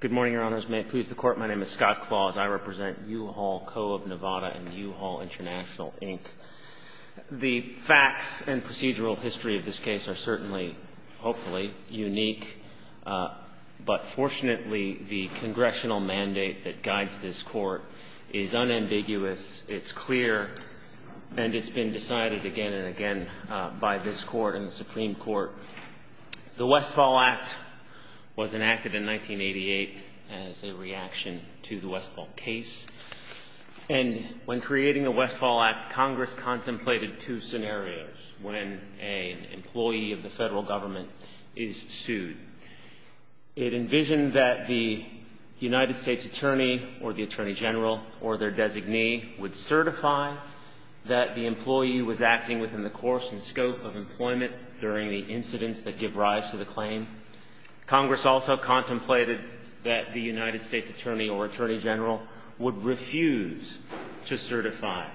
Good morning, Your Honors. May it please the Court, my name is Scott Claus. I represent U-Haul Co. of Nevada and U-Haul International, Inc. The facts and procedural history of this case are certainly, hopefully, unique. But fortunately, the Congressional mandate that guides this Court is unambiguous, it's clear, and it's been decided again and again by this Court and the Supreme Court. The Westfall Act was enacted in 1988 as a reaction to the Westfall case. And when creating the Westfall Act, Congress contemplated two scenarios when an employee of the federal government is sued. It envisioned that the United States Attorney or the Attorney General or their designee would certify that the employee was acting within the course and scope of employment during the incidents that give rise to the claim. Congress also contemplated that the United States Attorney or Attorney General would refuse to certify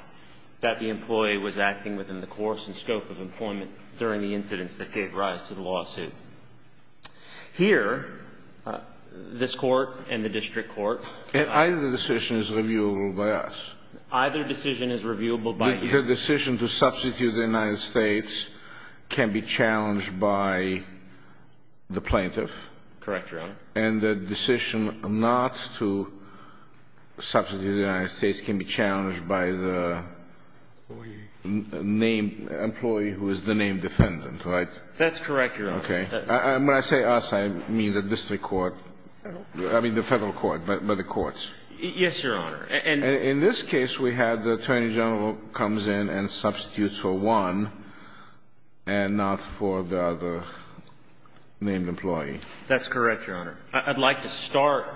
that the employee was acting within the course and scope of employment during the incidents that gave rise to the lawsuit. Here, this Court and the district court... Either decision is reviewable by us. Either decision is reviewable by you. The decision to substitute the United States can be challenged by the plaintiff. Correct, Your Honor. And the decision not to substitute the United States can be challenged by the employee who is the named defendant, right? That's correct, Your Honor. Okay. When I say us, I mean the district court. I mean the federal court, by the courts. Yes, Your Honor. In this case, we have the Attorney General comes in and substitutes for one and not for the other named employee. That's correct, Your Honor. I'd like to start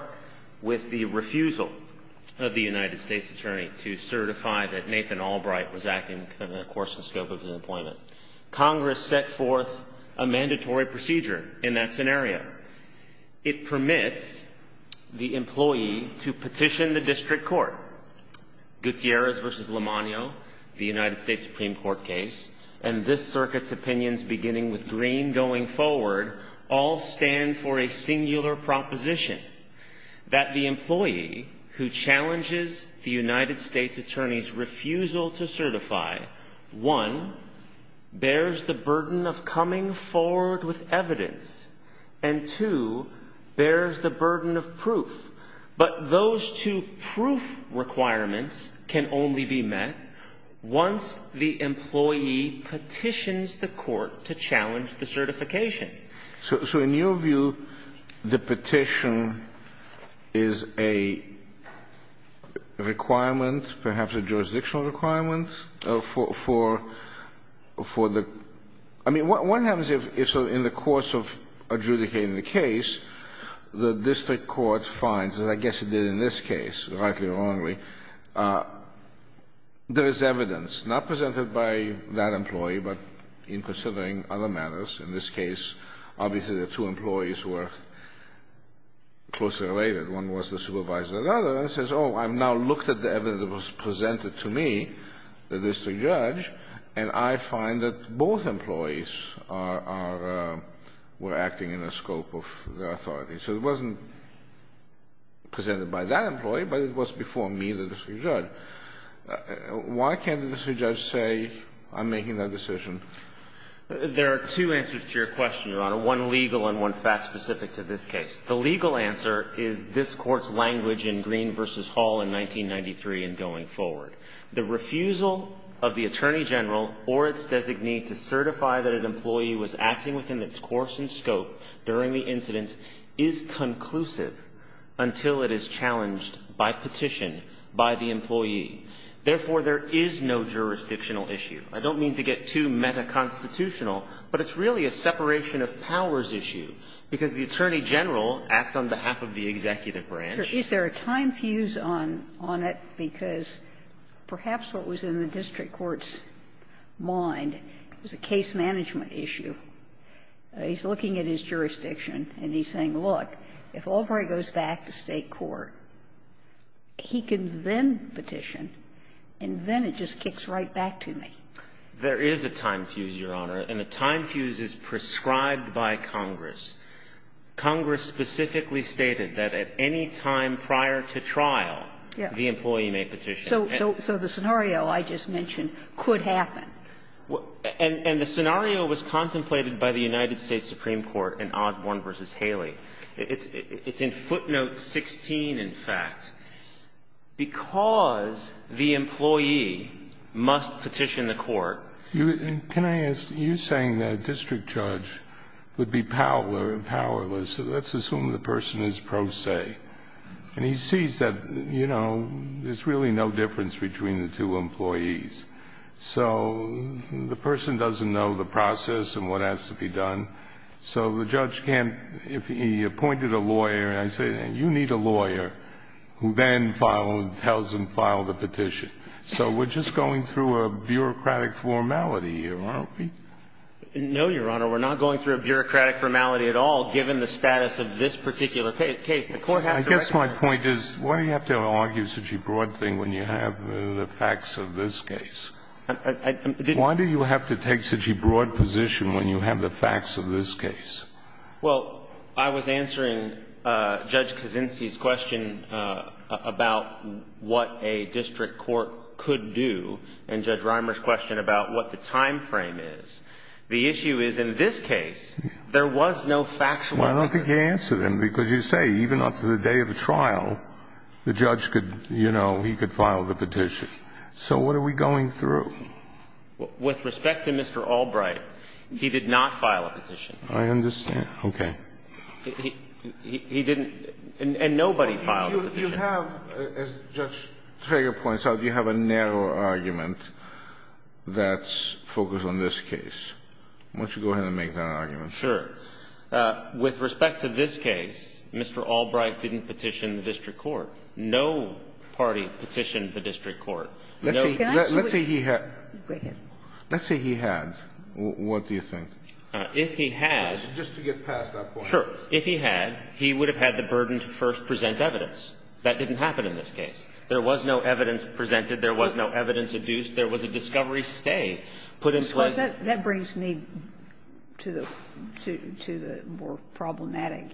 with the refusal of the United States Attorney to certify that Nathan Albright was acting within the course and scope of his employment. Congress set forth a mandatory procedure in that scenario. It permits the employee to petition the district court. Gutierrez v. Lomano, the United States Supreme Court case, and this circuit's opinions beginning with Green going forward, all stand for a singular proposition, that the employee who challenges the United States Attorney's refusal to certify, one, bears the burden of coming forward with evidence, and two, bears the burden of proof. But those two proof requirements can only be met once the employee petitions the court to challenge the certification. So in your view, the petition is a requirement, perhaps a jurisdictional requirement, for the – I mean, what happens if, in the course of adjudicating the case, the district court finds, as I guess it did in this case, rightly or wrongly, there is evidence, not presented by that employee, but in considering other matters. In this case, obviously the two employees were closely related. One was the supervisor of the other, and says, oh, I've now looked at the evidence that was presented to me, the district judge, and I find that both employees are – were acting in the scope of their authority. So it wasn't presented by that employee, but it was before me, the district judge. Why can't the district judge say, I'm making that decision? There are two answers to your question, Your Honor, one legal and one fact-specific to this case. The legal answer is this Court's language in Green v. Hall in 1993 and going forward. The refusal of the attorney general or its designee to certify that an employee was acting within its course and scope during the incident is conclusive until it is challenged by petition by the employee. Therefore, there is no jurisdictional issue. I don't mean to get too metaconstitutional, but it's really a separation of powers issue, because the attorney general acts on behalf of the executive branch. Ginsburg. Is there a time fuse on it? Because perhaps what was in the district court's mind was a case management issue. He's looking at his jurisdiction, and he's saying, look, if Albright goes back to State court, he can then petition, and then it just kicks right back to me. There is a time fuse, Your Honor, and the time fuse is prescribed by Congress. Congress specifically stated that at any time prior to trial, the employee may petition. So the scenario I just mentioned could happen. And the scenario was contemplated by the United States Supreme Court in Osborne v. Haley. It's in footnote 16, in fact. Because the employee must petition the court. Can I ask, you're saying that a district judge would be powerless, so let's assume the person is pro se, and he sees that, you know, there's really no difference between the two employees. So the person doesn't know the process and what has to be done. So the judge can't, if he appointed a lawyer and I say, you need a lawyer who then files and tells him to file the petition. So we're just going through a bureaucratic formality here, aren't we? No, Your Honor. We're not going through a bureaucratic formality at all, given the status of this particular case. The court has to recognize that. I guess my point is, why do you have to argue such a broad thing when you have the facts of this case? Why do you have to take such a broad position when you have the facts of this case? Well, I was answering Judge Kaczynski's question about what a district court could do and Judge Reimer's question about what the time frame is. The issue is, in this case, there was no factual difference. Well, I don't think you answered him, because you say even after the day of the trial, the judge could, you know, he could file the petition. So what are we going through? With respect to Mr. Albright, he did not file a petition. I understand. Okay. He didn't. And nobody filed a petition. You have, as Judge Trager points out, you have a narrow argument that's focused on this case. Why don't you go ahead and make that argument? Sure. With respect to this case, Mr. Albright didn't petition the district court. No party petitioned the district court. Let's say he had. Go ahead. Let's say he had. What do you think? If he had. Just to get past that point. Sure. If he had, he would have had the burden to first present evidence. That didn't happen in this case. There was no evidence presented. There was no evidence adduced. There was a discovery stay put in place. Well, that brings me to the more problematic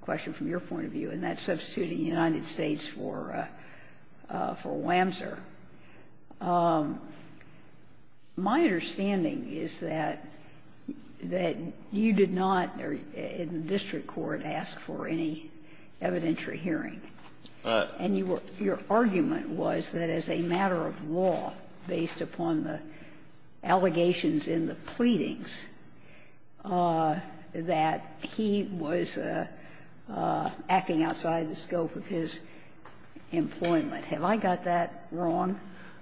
question from your point of view, and that's substituting the United States for WAMSR. My understanding is that you did not, in the district court, ask for any evidentiary hearing. And your argument was that as a matter of law, based upon the allegations in the pleadings, that he was acting outside the scope of his employment. Have I got that wrong?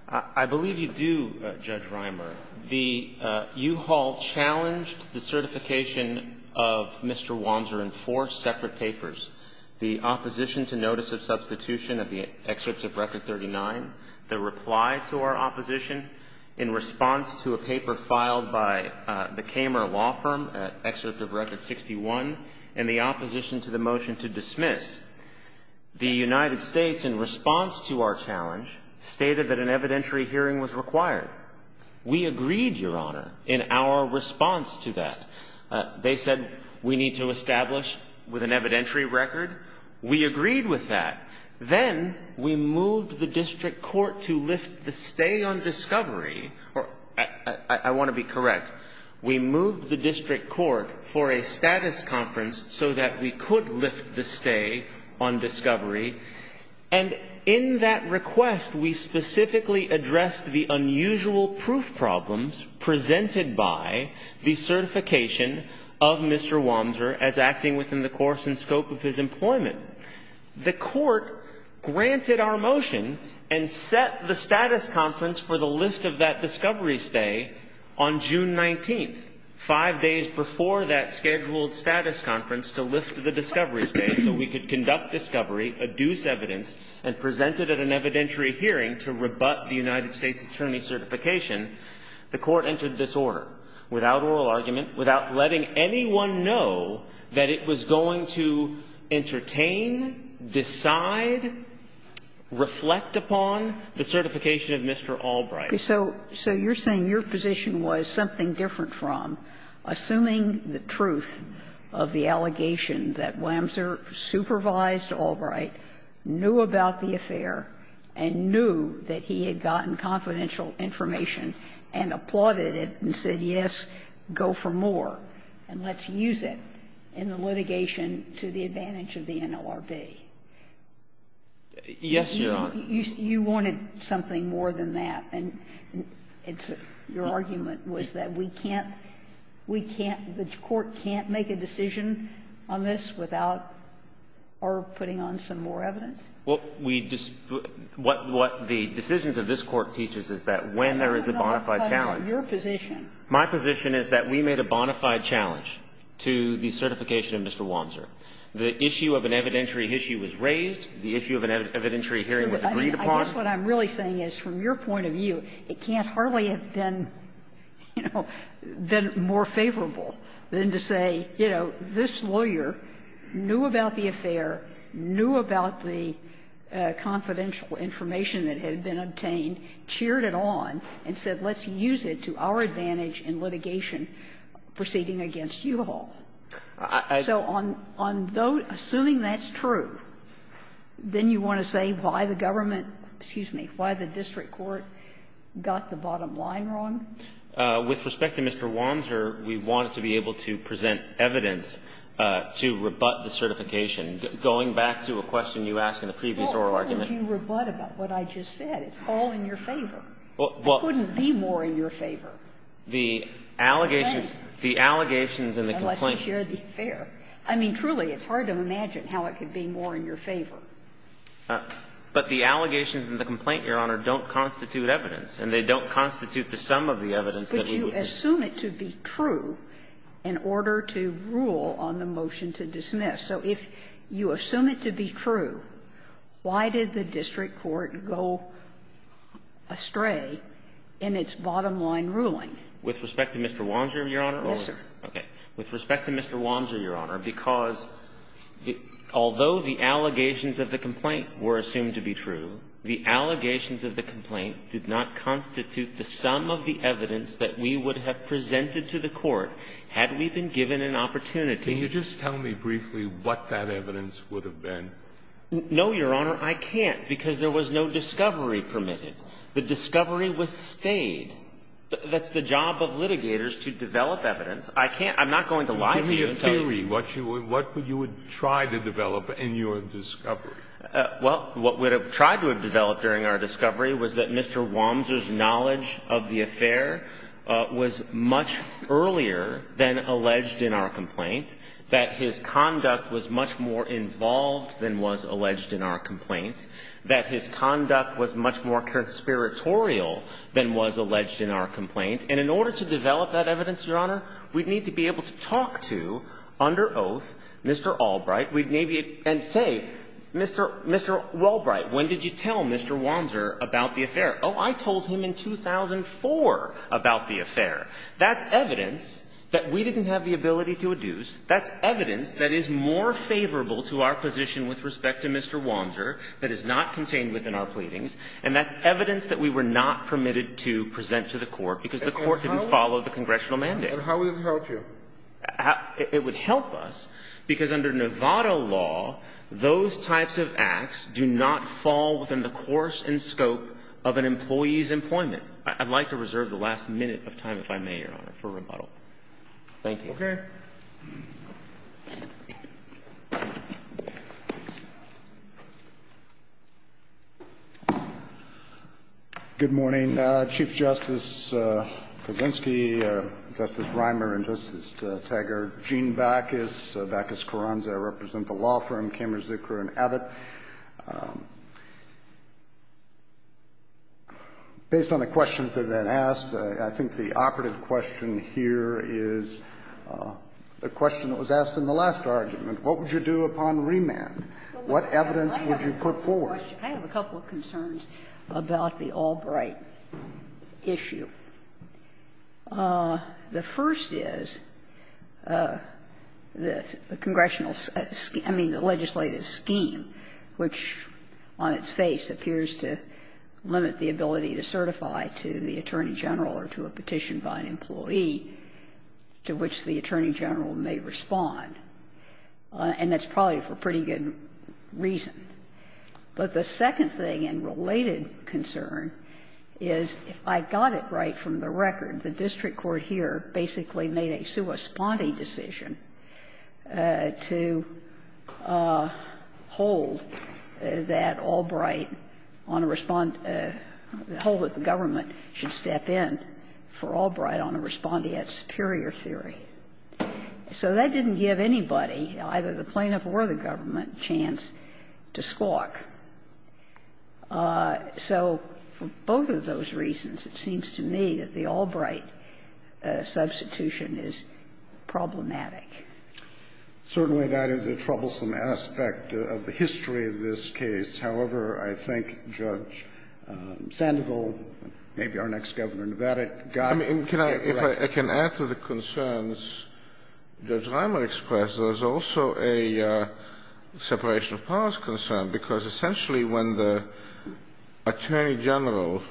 I believe you do, Judge Rimer. The U-Haul challenged the certification of Mr. WAMSR in four separate papers. The opposition to notice of substitution of the excerpt of Record 39, the reply to our opposition in response to a paper filed by the Kamer Law Firm, excerpt of Record 61, and the opposition to the motion to dismiss. The United States, in response to our challenge, stated that an evidentiary hearing was required. We agreed, Your Honor, in our response to that. They said we need to establish with an evidentiary record. We agreed with that. Then we moved the district court to lift the stay on discovery. I want to be correct. We moved the district court for a status conference so that we could lift the stay on discovery. And in that request, we specifically addressed the unusual proof problems presented by the certification of Mr. WAMSR as acting within the course and scope of his employment. The court granted our motion and set the status conference for the lift of that discovery stay on June 19th, five days before that scheduled status conference to lift the discovery stay so we could conduct discovery, adduce evidence, and present it at an evidentiary hearing to rebut the United States' attorney certification. The court entered this order without oral argument, without letting anyone know that it was going to entertain, decide, reflect upon the certification of Mr. Albright. So you're saying your position was something different from assuming the truth of the allegation that WAMSR supervised Albright, knew about the affair, and knew that he had gotten confidential information, and applauded it and said, yes, go for more, and let's use it in the litigation to the advantage of the NLRB? Yes, Your Honor. You wanted something more than that, and your argument was that we can't – we can't – the court can't make a decision on this without our putting on some more evidence? Well, we just – what the decisions of this Court teaches is that when there is a bona fide challenge. Your position? My position is that we made a bona fide challenge to the certification of Mr. WAMSR. The issue of an evidentiary issue was raised. The issue of an evidentiary hearing was agreed upon. I guess what I'm really saying is, from your point of view, it can't hardly have been, you know, been more favorable than to say, you know, this lawyer knew about the affair, knew about the confidential information that had been obtained, cheered it on, and said, let's use it to our advantage in litigation proceeding against you all. So on those – assuming that's true, then you want to say why the government – excuse me – why the district court got the bottom line wrong? With respect to Mr. WAMSR, we wanted to be able to present evidence to rebut the certification going back to a question you asked in the previous oral argument. Well, why would you rebut about what I just said? It's all in your favor. Well, well. It couldn't be more in your favor. The allegations – the allegations in the complaint. Unless you share the affair. I mean, truly, it's hard to imagine how it could be more in your favor. But the allegations in the complaint, Your Honor, don't constitute evidence, and they don't constitute the sum of the evidence that we would have. But you assume it to be true in order to rule on the motion to dismiss. So if you assume it to be true, why did the district court go astray in its bottom line ruling? With respect to Mr. WAMSR, Your Honor? Yes, sir. Okay. With respect to Mr. WAMSR, Your Honor, because although the allegations of the complaint were assumed to be true, the allegations of the complaint did not constitute the sum of the evidence that we would have presented to the court had we been given an opportunity. Can you just tell me briefly what that evidence would have been? No, Your Honor, I can't, because there was no discovery permitted. The discovery was stayed. That's the job of litigators, to develop evidence. I can't – I'm not going to lie to you. Give me a theory. What you would – what you would try to develop in your discovery? Well, what we would have tried to have developed during our discovery was that Mr. WAMSR did not have the ability to adduce that his conduct was much more involved than was alleged in our complaint, that his conduct was much more conspiratorial than was alleged in our complaint. And in order to develop that evidence, Your Honor, we'd need to be able to talk to, under oath, Mr. Albright. We'd maybe – and say, Mr. – Mr. Albright, when did you tell Mr. WAMSR about the affair? Oh, I told him in 2004 about the affair. That's evidence that we didn't have the ability to adduce. That's evidence that is more favorable to our position with respect to Mr. WAMSR that is not contained within our pleadings. And that's evidence that we were not permitted to present to the Court, because the Court didn't follow the congressional mandate. And how would it help you? It would help us, because under Novato law, those types of acts do not fall within the course and scope of an employee's employment. I'd like to reserve the last minute of time, if I may, Your Honor, for rebuttal. Thank you. Okay. Good morning, Chief Justice Kuczynski, Justice Reimer, and Justice Taggart. Gene Bacchus, Bacchus Carranza. I represent the law firm Cameron, Zucker, and Abbott. Based on the questions that have been asked, I think the operative question here is the question that was asked in the last argument. What would you do upon remand? What evidence would you put forward? I have a couple of concerns about the Albright issue. The first is the congressional – I mean, the legislative scheme. Which, on its face, appears to limit the ability to certify to the Attorney General or to a petition by an employee to which the Attorney General may respond. And that's probably for pretty good reason. But the second thing and related concern is, if I got it right from the record, the district court here basically made a sua sponde decision to hold that Albright on a respond – the whole of the government should step in for Albright on a respondeat superior theory. So that didn't give anybody, either the plaintiff or the government, a chance to squawk. So for both of those reasons, it seems to me that the Albright substitution is problematic. Certainly, that is a troublesome aspect of the history of this case. However, I think Judge Sandoval, maybe our next Governor in Nevada, got it right. I mean, if I can add to the concerns Judge Reimer expressed, there's also a separation of powers concern, because essentially when the Attorney General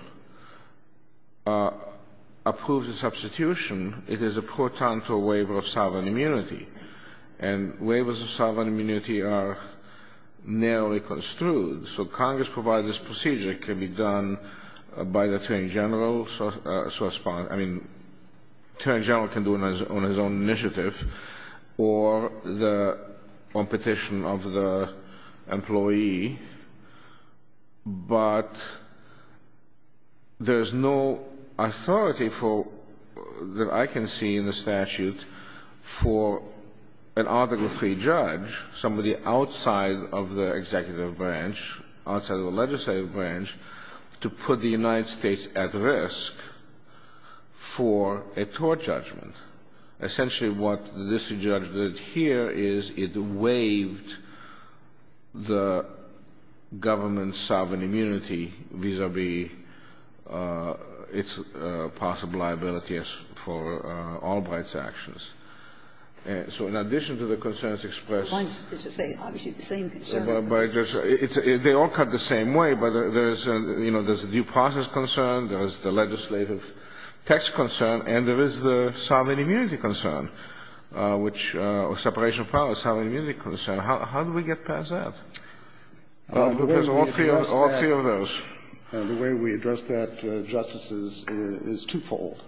approves a substitution, it is a portent to a waiver of sovereign immunity. And waivers of sovereign immunity are narrowly construed. So Congress provides this procedure. It can be done by the Attorney General, sua sponde. I mean, Attorney General can do it on his own initiative or on petition of the employee. But there's no authority that I can see in the statute for an Article III judge, somebody outside of the executive branch, outside of the legislative branch, to put the United States at risk for a tort judgment. Essentially, what this judge did here is it waived the government's sovereign immunity vis-a-vis its possible liability for Albright's actions. So in addition to the concerns expressed by Judge Sandoval, there's a new possibility where there is the process concern, there is the legislative text concern, and there is the sovereign immunity concern, which or separation of powers, sovereign immunity concern. How do we get past that? Because all three of those. The way we address that, Justice, is twofold.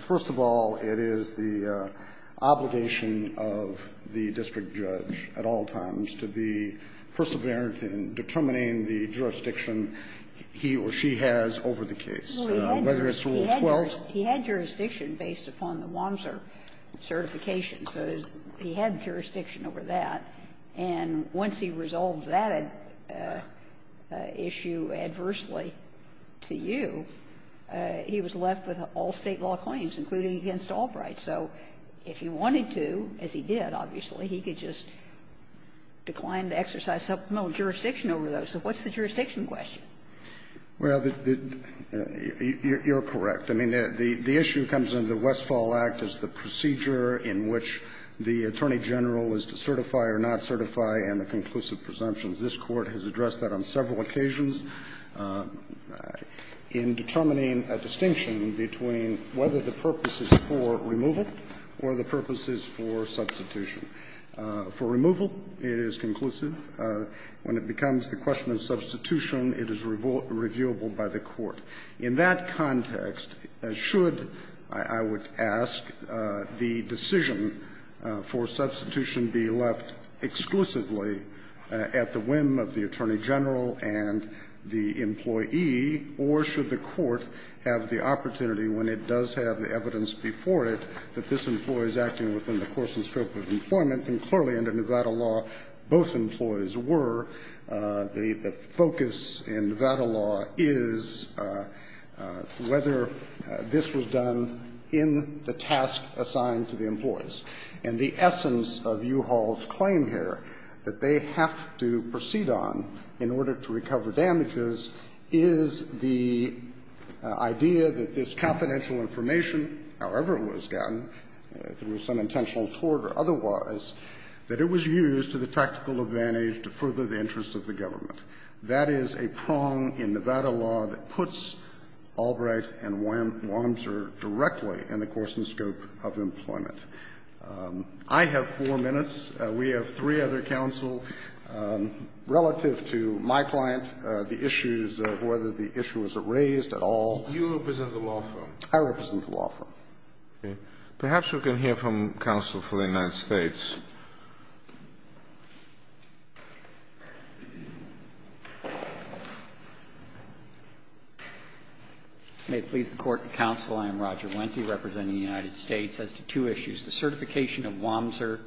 First of all, it is the obligation of the district judge at all times to be perseverant in determining the jurisdiction he or she has over the case, whether it's Rule 12. He had jurisdiction based upon the Wamser certification. So he had jurisdiction over that. And once he resolved that issue adversely to you, he was left with all State law claims, including against Albright. So if he wanted to, as he did, obviously, he could just decline the exercise of jurisdiction over those. So what's the jurisdiction question? Well, you're correct. I mean, the issue that comes under the Westfall Act is the procedure in which the Attorney General is to certify or not certify and the conclusive presumptions. This Court has addressed that on several occasions in determining a distinction between whether the purpose is for removal or the purpose is for substitution. For removal, it is conclusive. When it becomes the question of substitution, it is reviewable by the Court. In that context, should, I would ask, the decision for substitution be left exclusively at the whim of the Attorney General and the employee, or should the Court have the opportunity, when it does have the evidence before it, that this employee is acting within the course and scope of employment, and clearly, under Nevada law, both employees were, the focus in Nevada law is whether this was done in the task assigned to the employees. And the essence of U-Haul's claim here, that they have to proceed on in order to recover damages, is the idea that this confidential information, however it was done, there was some intentional tort or otherwise, that it was used to the tactical advantage to further the interests of the government. That is a prong in Nevada law that puts Albright and Wamser directly in the course and scope of employment. I have four minutes. We have three other counsel. Relative to my client, the issues of whether the issue was raised at all. Kennedy. You represent the law firm. I represent the law firm. Perhaps we can hear from counsel for the United States. May it please the Court and counsel, I am Roger Wenthee, representing the United States, as to two issues. The certification of Wamser.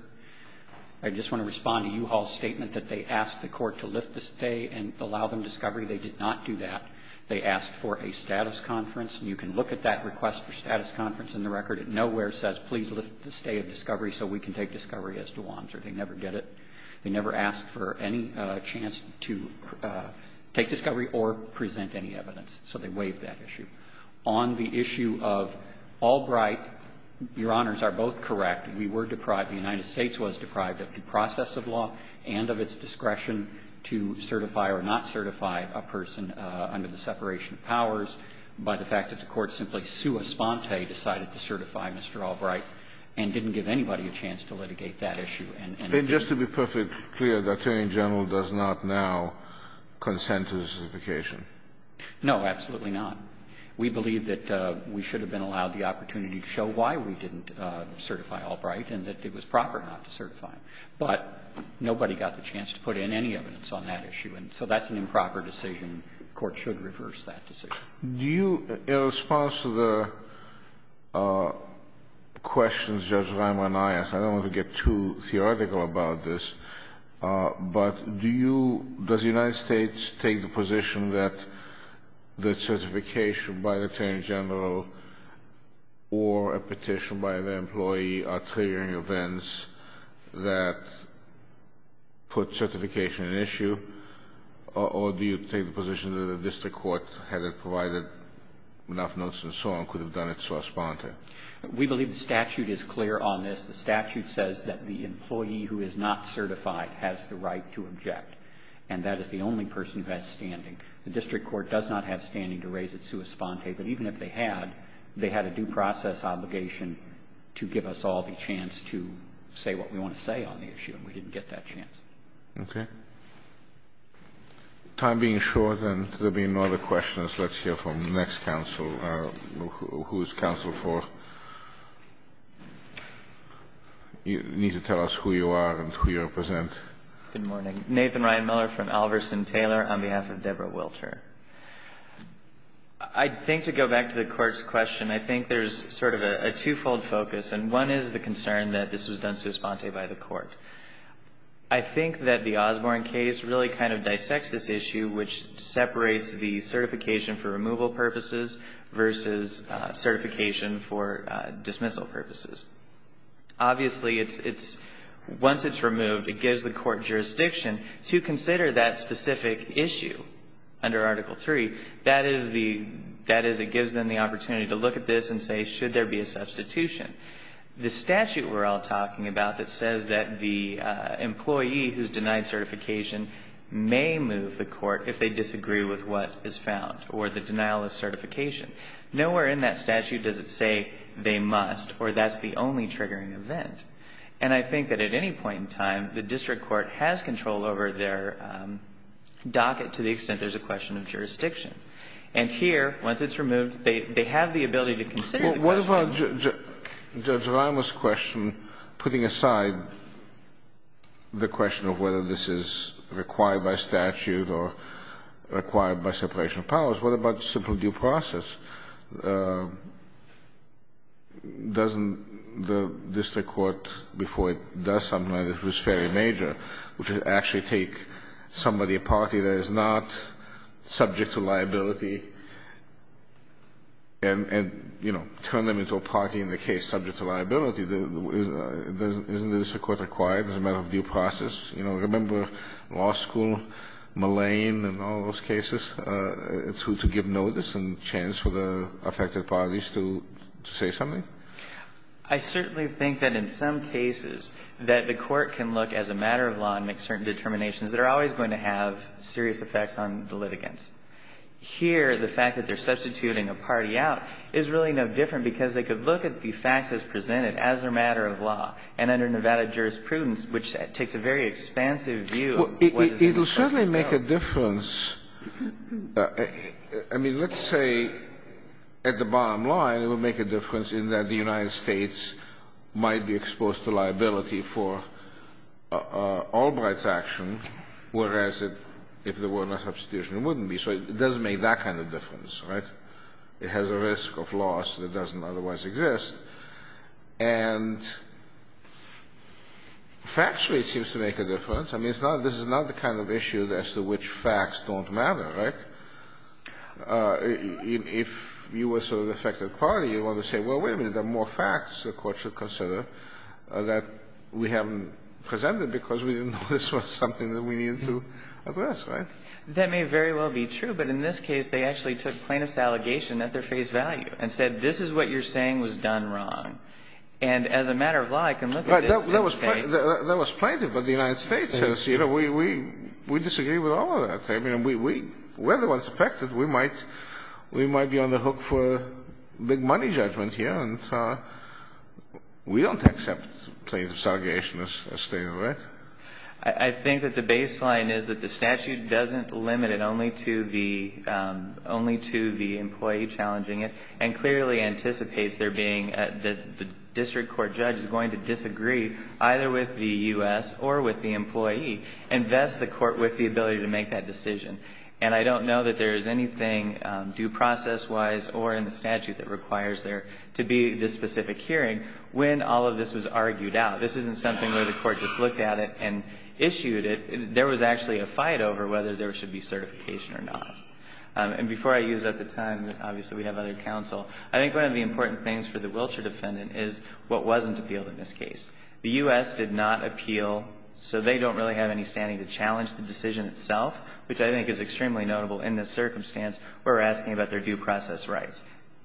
I just want to respond to U-Haul's statement that they asked the Court to lift the stay and allow them discovery. They did not do that. They asked for a status conference, and you can look at that request for status conference in the record. It nowhere says, please lift the stay of discovery so we can take discovery as to Wamser. They never did it. They never asked for any chance to take discovery or present any evidence. So they waived that issue. On the issue of Albright, your honors are both correct. We were deprived, the United States was deprived of the process of law and of its discretion to certify or not certify a person under the separation of powers by the to certify Mr. Albright and didn't give anybody a chance to litigate that issue. And just to be perfectly clear, the Attorney General does not now consent to the certification. No, absolutely not. We believe that we should have been allowed the opportunity to show why we didn't certify Albright and that it was proper not to certify him. But nobody got the chance to put in any evidence on that issue. And so that's an improper decision. The Court should reverse that decision. Do you, in response to the questions Judge Reimer and I asked, I don't want to get too theoretical about this, but do you, does the United States take the position that the certification by the Attorney General or a petition by the employee are triggering events that put certification at issue? Or do you take the position that the district court, had it provided enough notes and so on, could have done it sua sponte? We believe the statute is clear on this. The statute says that the employee who is not certified has the right to object. And that is the only person who has standing. The district court does not have standing to raise it sua sponte. But even if they had, they had a due process obligation to give us all the chance to say what we want to say on the issue. And we didn't get that chance. Okay. Time being short, then, there being no other questions, let's hear from the next counsel. Who is counsel for? You need to tell us who you are and who you represent. Good morning. Nathan Ryan Miller from Alverson Taylor on behalf of Deborah Wilter. I think to go back to the Court's question, I think there's sort of a twofold focus. And one is the concern that this was done sua sponte by the Court. I think that the Osborne case really kind of dissects this issue, which separates the certification for removal purposes versus certification for dismissal purposes. Obviously, once it's removed, it gives the Court jurisdiction to consider that specific issue under Article III. That is, it gives them the opportunity to look at this and say, should there be a substitution? The statute we're all talking about that says that the employee who's denied certification may move the Court if they disagree with what is found, or the denial of certification. Nowhere in that statute does it say they must, or that's the only triggering event. And I think that at any point in time, the district court has control over their docket to the extent there's a question of jurisdiction. And here, once it's removed, they have the ability to consider the question. Well, Judge Rimer's question, putting aside the question of whether this is required by statute or required by separation of powers, what about the simple due process? Doesn't the district court, before it does something like this, which is fairly major, which would actually take somebody, a party that is not subject to liability and, you know, turn them into a party in the case subject to liability, isn't the district court required as a matter of due process? You know, remember law school, Mullane and all those cases, to give notice and chance for the affected parties to say something? I certainly think that in some cases that the Court can look as a matter of law and make certain determinations that are always going to have serious effects on the litigants. Here, the fact that they're substituting a party out is really no different because they could look at the facts as presented as a matter of law. And under Nevada jurisprudence, which takes a very expansive view of what is in the substance now. It will certainly make a difference. I mean, let's say at the bottom line, it would make a difference in that the United States might be exposed to liability for Albright's action, whereas if there were a substitution, it wouldn't be. So it does make that kind of difference, right? It has a risk of loss that doesn't otherwise exist. And factually, it seems to make a difference. I mean, this is not the kind of issue as to which facts don't matter, right? If you were sort of the affected party, you want to say, well, wait a minute, there are more facts the Court should consider that we haven't presented because we didn't know this was something that we needed to address, right? That may very well be true. But in this case, they actually took plaintiff's allegation at their face value and said, this is what you're saying was done wrong. And as a matter of law, I can look at this and say — That was plaintiff, but the United States says, you know, we disagree with all of that. I mean, we're the ones affected. We might be on the hook for a big money judgment here. And we don't accept plaintiff's allegation as stated, right? I think that the baseline is that the statute doesn't limit it only to the employee challenging it and clearly anticipates there being — that the district court judge is going to disagree either with the U.S. or with the employee and vest the Court with the ability to make that decision. And I don't know that there is anything due process-wise or in the statute that requires there to be this specific hearing when all of this was argued out. This isn't something where the Court just looked at it and issued it. There was actually a fight over whether there should be certification or not. And before I use up the time, obviously, we have other counsel, I think one of the important things for the Wilshire defendant is what wasn't appealed in this case. The U.S. did not appeal, so they don't really have any standing to challenge the decision itself, which I think is extremely notable in this circumstance where we're asking about their due process rights.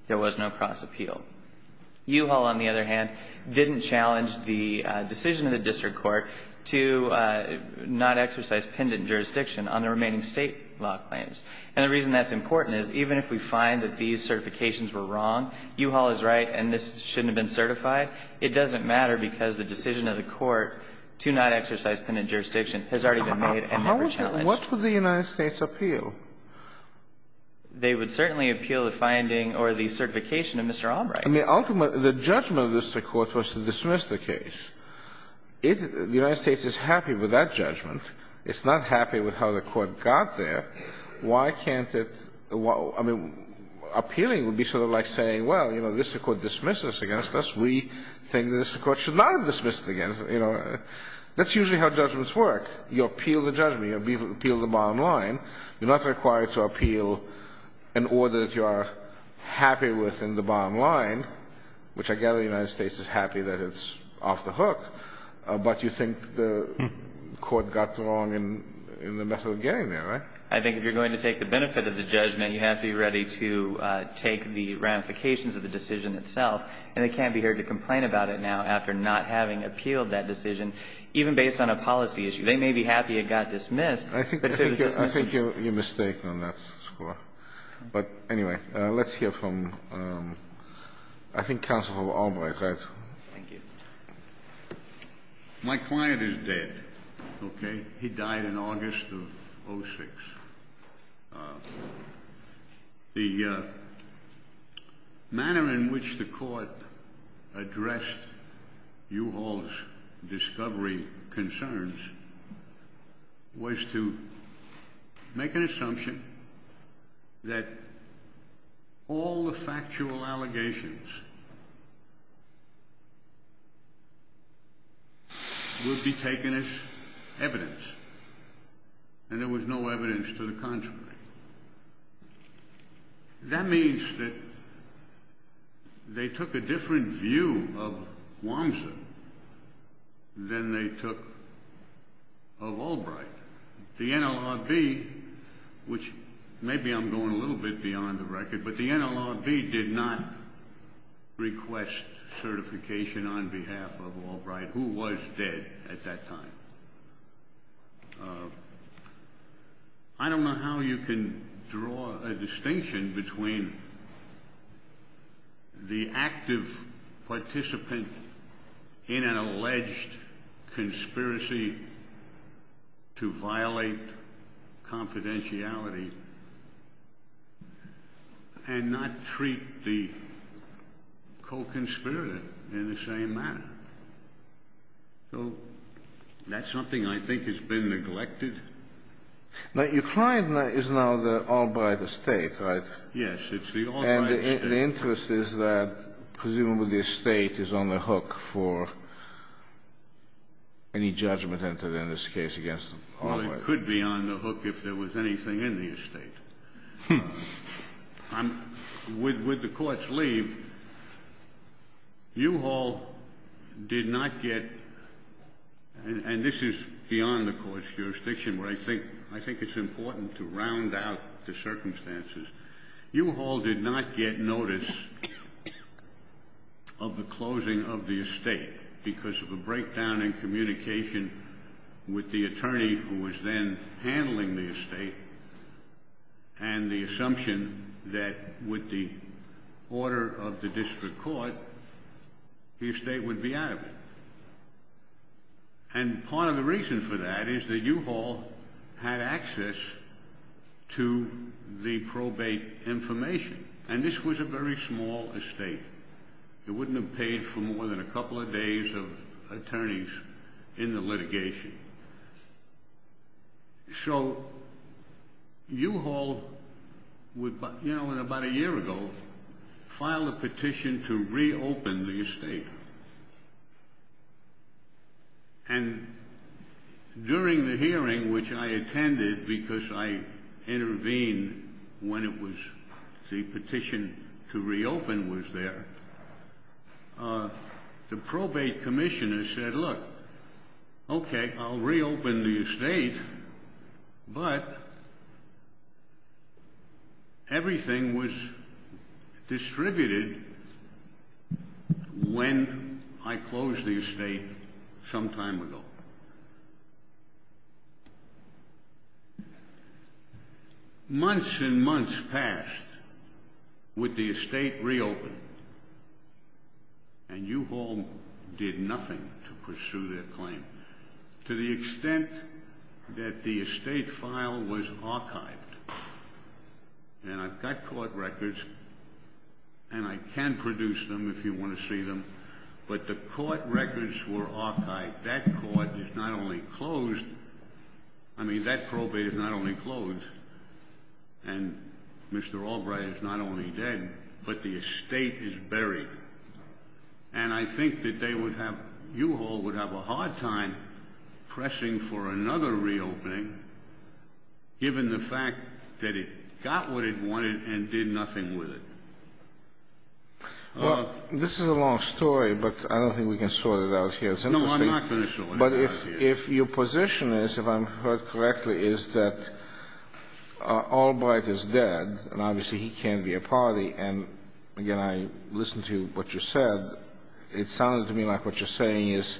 There was no cross-appeal. U-Haul, on the other hand, didn't challenge the decision of the district court to not exercise pendant jurisdiction on the remaining State law claims. And the reason that's important is, even if we find that these certifications were wrong, U-Haul is right and this shouldn't have been certified, it doesn't matter because the decision of the court to not exercise pendant jurisdiction has already been made and never challenged. Sotomayor What would the United States appeal? They would certainly appeal the finding or the certification of Mr. Albright. I mean, ultimately, the judgment of the district court was to dismiss the case. If the United States is happy with that judgment, it's not happy with how the court got there, why can't it – I mean, appealing would be sort of like saying, well, you know, the district court dismissed this against us, we think the district court should not have dismissed it against – you know, that's usually how judgments work. So you're not required to appeal an order that you are happy with in the bottom line, which I gather the United States is happy that it's off the hook, but you think the court got it wrong in the method of getting there, right? I think if you're going to take the benefit of the judgment, you have to be ready to take the ramifications of the decision itself. And they can't be here to complain about it now after not having appealed that decision, even based on a policy issue. They may be happy it got dismissed, but should it have been dismissed? I think you're mistaken on that score. But anyway, let's hear from, I think, Counselor Albright, right? Thank you. My client is dead, okay? He died in August of 2006. The manner in which the court addressed U-Haul's discovery concerns was to make an assumption that all the factual allegations would be taken as evidence, and there was no evidence to the contrary. That means that they took a different view of Wamser than they took of Albright. The NLRB, which maybe I'm going a little bit beyond the record, but the NLRB did not request certification on behalf of Albright, who was dead at that time. I don't know how you can draw a distinction between the active participant in an alleged conspiracy to violate confidentiality and not treat the co-conspirator in the same manner. So that's something I think has been neglected. But your client is now the Albright estate, right? And the interest is that presumably the estate is on the hook for any judgment entered in this case against Albright. It could be on the hook if there was anything in the estate. With the court's leave, U-Haul did not get, and this is beyond the court's jurisdiction, but I think it's important to round out the circumstances. U-Haul did not get notice of the closing of the estate because of a breakdown in communication with the attorney who was then handling the estate and the assumption that with the order of the district court, the estate would be out of it. And part of the reason for that is that U-Haul had access to the probate information. And this was a very small estate. It wouldn't have paid for more than a couple of days of attorneys in the litigation. So U-Haul, you know, about a year ago, filed a petition to reopen the estate. And during the hearing, which I attended because I intervened when it was the petition to reopen was there, the probate commissioner said, look, okay, I'll reopen the estate, but everything was distributed when I closed the estate some time ago. Months and months passed with the estate reopened. And U-Haul did nothing to pursue their claim to the extent that the estate file was archived. And I've got court records and I can produce them if you want to see them, but the court records were archived. That court is not only closed, I mean, that probate is not only closed and Mr. Albright is not only dead, but the estate is buried. And I think that they would have, U-Haul would have a hard time pressing for another reopening given the fact that it got what it wanted and did nothing with it. Well, this is a long story, but I don't think we can sort it out here. No, I'm not going to sort it out here. But if your position is, if I'm heard correctly, is that Albright is dead, and obviously he can't be a party. And again, I listened to what you said, it sounded to me like what you're saying is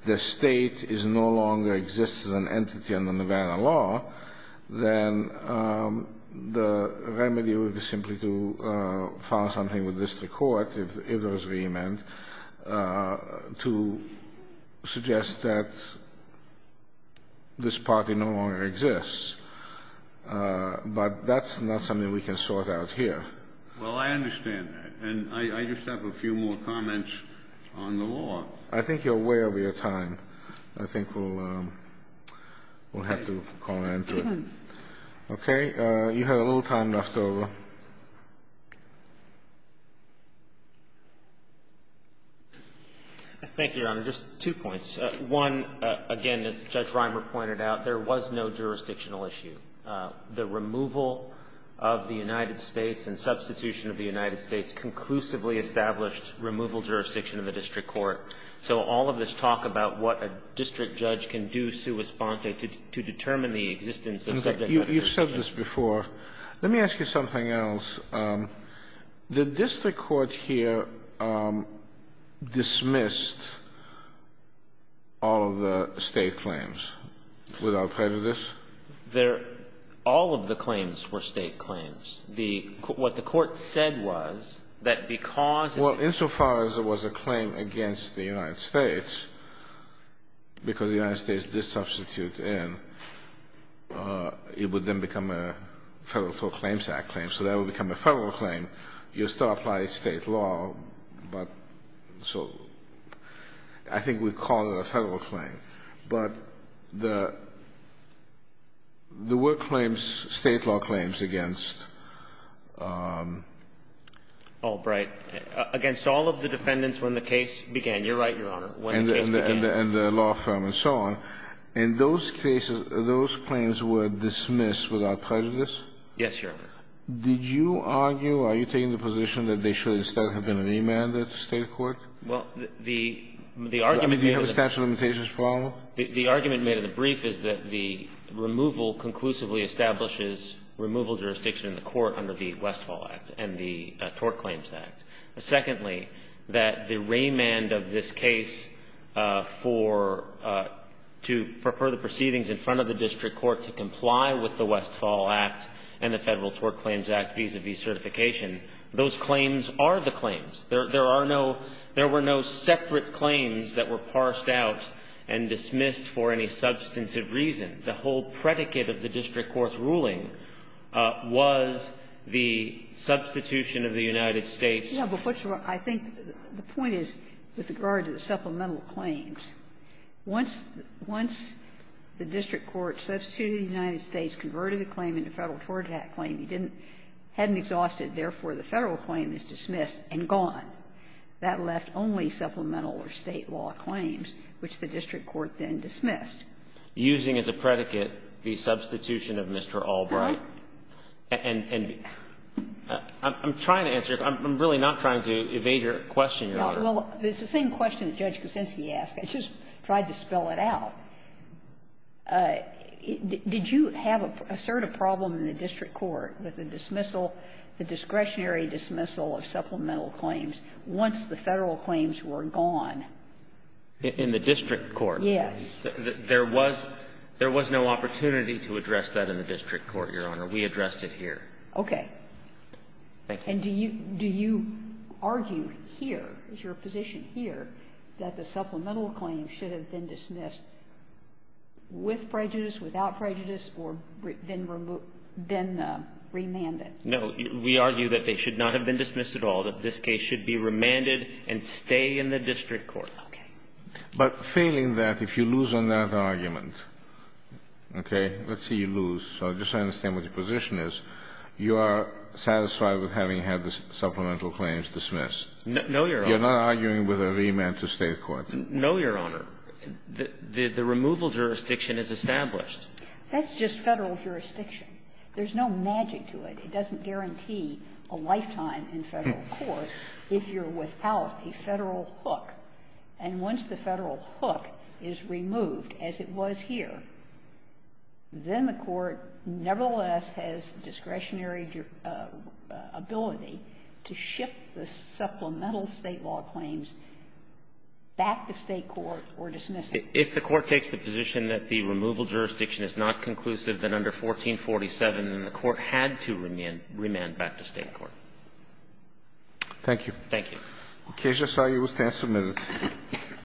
if the estate no longer exists as an entity under Nevada law, then the remedy would be simply to file something with district court if there was a remand to suggest that this party no longer exists. But that's not something we can sort out here. Well, I understand that. And I just have a few more comments on the law. I think you're way over your time. I think we'll have to call an end to it. Okay. You have a little time left over. Thank you, Your Honor. Just two points. One, again, as Judge Reimer pointed out, there was no jurisdictional issue. The removal of the United States and substitution of the United States conclusively established removal jurisdiction of the district court. So all of this talk about what a district judge can do to determine the existence of a subject matter jurisdiction. You've said this before. Let me ask you something else. The district court here dismissed all of the state claims without prejudice? All of the claims were state claims. What the Court said was that because of the United States. Well, insofar as it was a claim against the United States, because the United States did substitute in, it would then become a federal claims act claim. So that would become a federal claim. You still apply state law, but so I think we'd call it a federal claim. But the word claims, state law claims against. Oh, right. Against all of the defendants when the case began. You're right, Your Honor. When the case began. And the law firm and so on. In those cases, those claims were dismissed without prejudice? Yes, Your Honor. Did you argue, are you taking the position that they should instead have been remanded to state court? Well, the argument they have is that. The argument made in the brief is that the removal conclusively establishes removal jurisdiction in the court under the Westfall Act and the Tort Claims Act. Secondly, that the remand of this case for to prefer the proceedings in front of the district court to comply with the Westfall Act and the Federal Tort Claims Act vis-a-vis certification. Those claims are the claims. There are no – there were no separate claims that were parsed out and dismissed for any substantive reason. The whole predicate of the district court's ruling was the substitution of the United States. Yeah, but what you're – I think the point is, with regard to the supplemental claims, once the district court substituted the United States, converted the claim into a Federal Tort Act claim, you didn't – hadn't exhausted, therefore, the Federal claim is dismissed and gone. That left only supplemental or State law claims, which the district court then dismissed. Using as a predicate the substitution of Mr. Albright. And I'm trying to answer your – I'm really not trying to evade your question, Your Honor. Well, it's the same question that Judge Kucinski asked. I just tried to spell it out. Did you have a – assert a problem in the district court with the dismissal – the discretionary dismissal of supplemental claims once the Federal claims were gone? In the district court? Yes. There was – there was no opportunity to address that in the district court, Your Honor. We addressed it here. Okay. Thank you. And do you – do you argue here, is your position here, that the supplemental claims should have been dismissed with prejudice, without prejudice, or been remanded? No. We argue that they should not have been dismissed at all, that this case should be remanded and stay in the district court. Okay. But failing that, if you lose on that argument, okay? Let's say you lose. So just so I understand what your position is, you are satisfied with having had the supplemental claims dismissed? No, Your Honor. You're not arguing with a remand to State court? No, Your Honor. The removal jurisdiction is established. That's just Federal jurisdiction. There's no magic to it. It doesn't guarantee a lifetime in Federal court if you're without a Federal hook. And once the Federal hook is removed, as it was here, then the court nevertheless has discretionary ability to shift the supplemental State law claims back to State court or dismiss it. If the court takes the position that the removal jurisdiction is not conclusive than under 1447, then the court had to remand back to State court. Thank you. Thank you. The case is signed. You will stand submitted.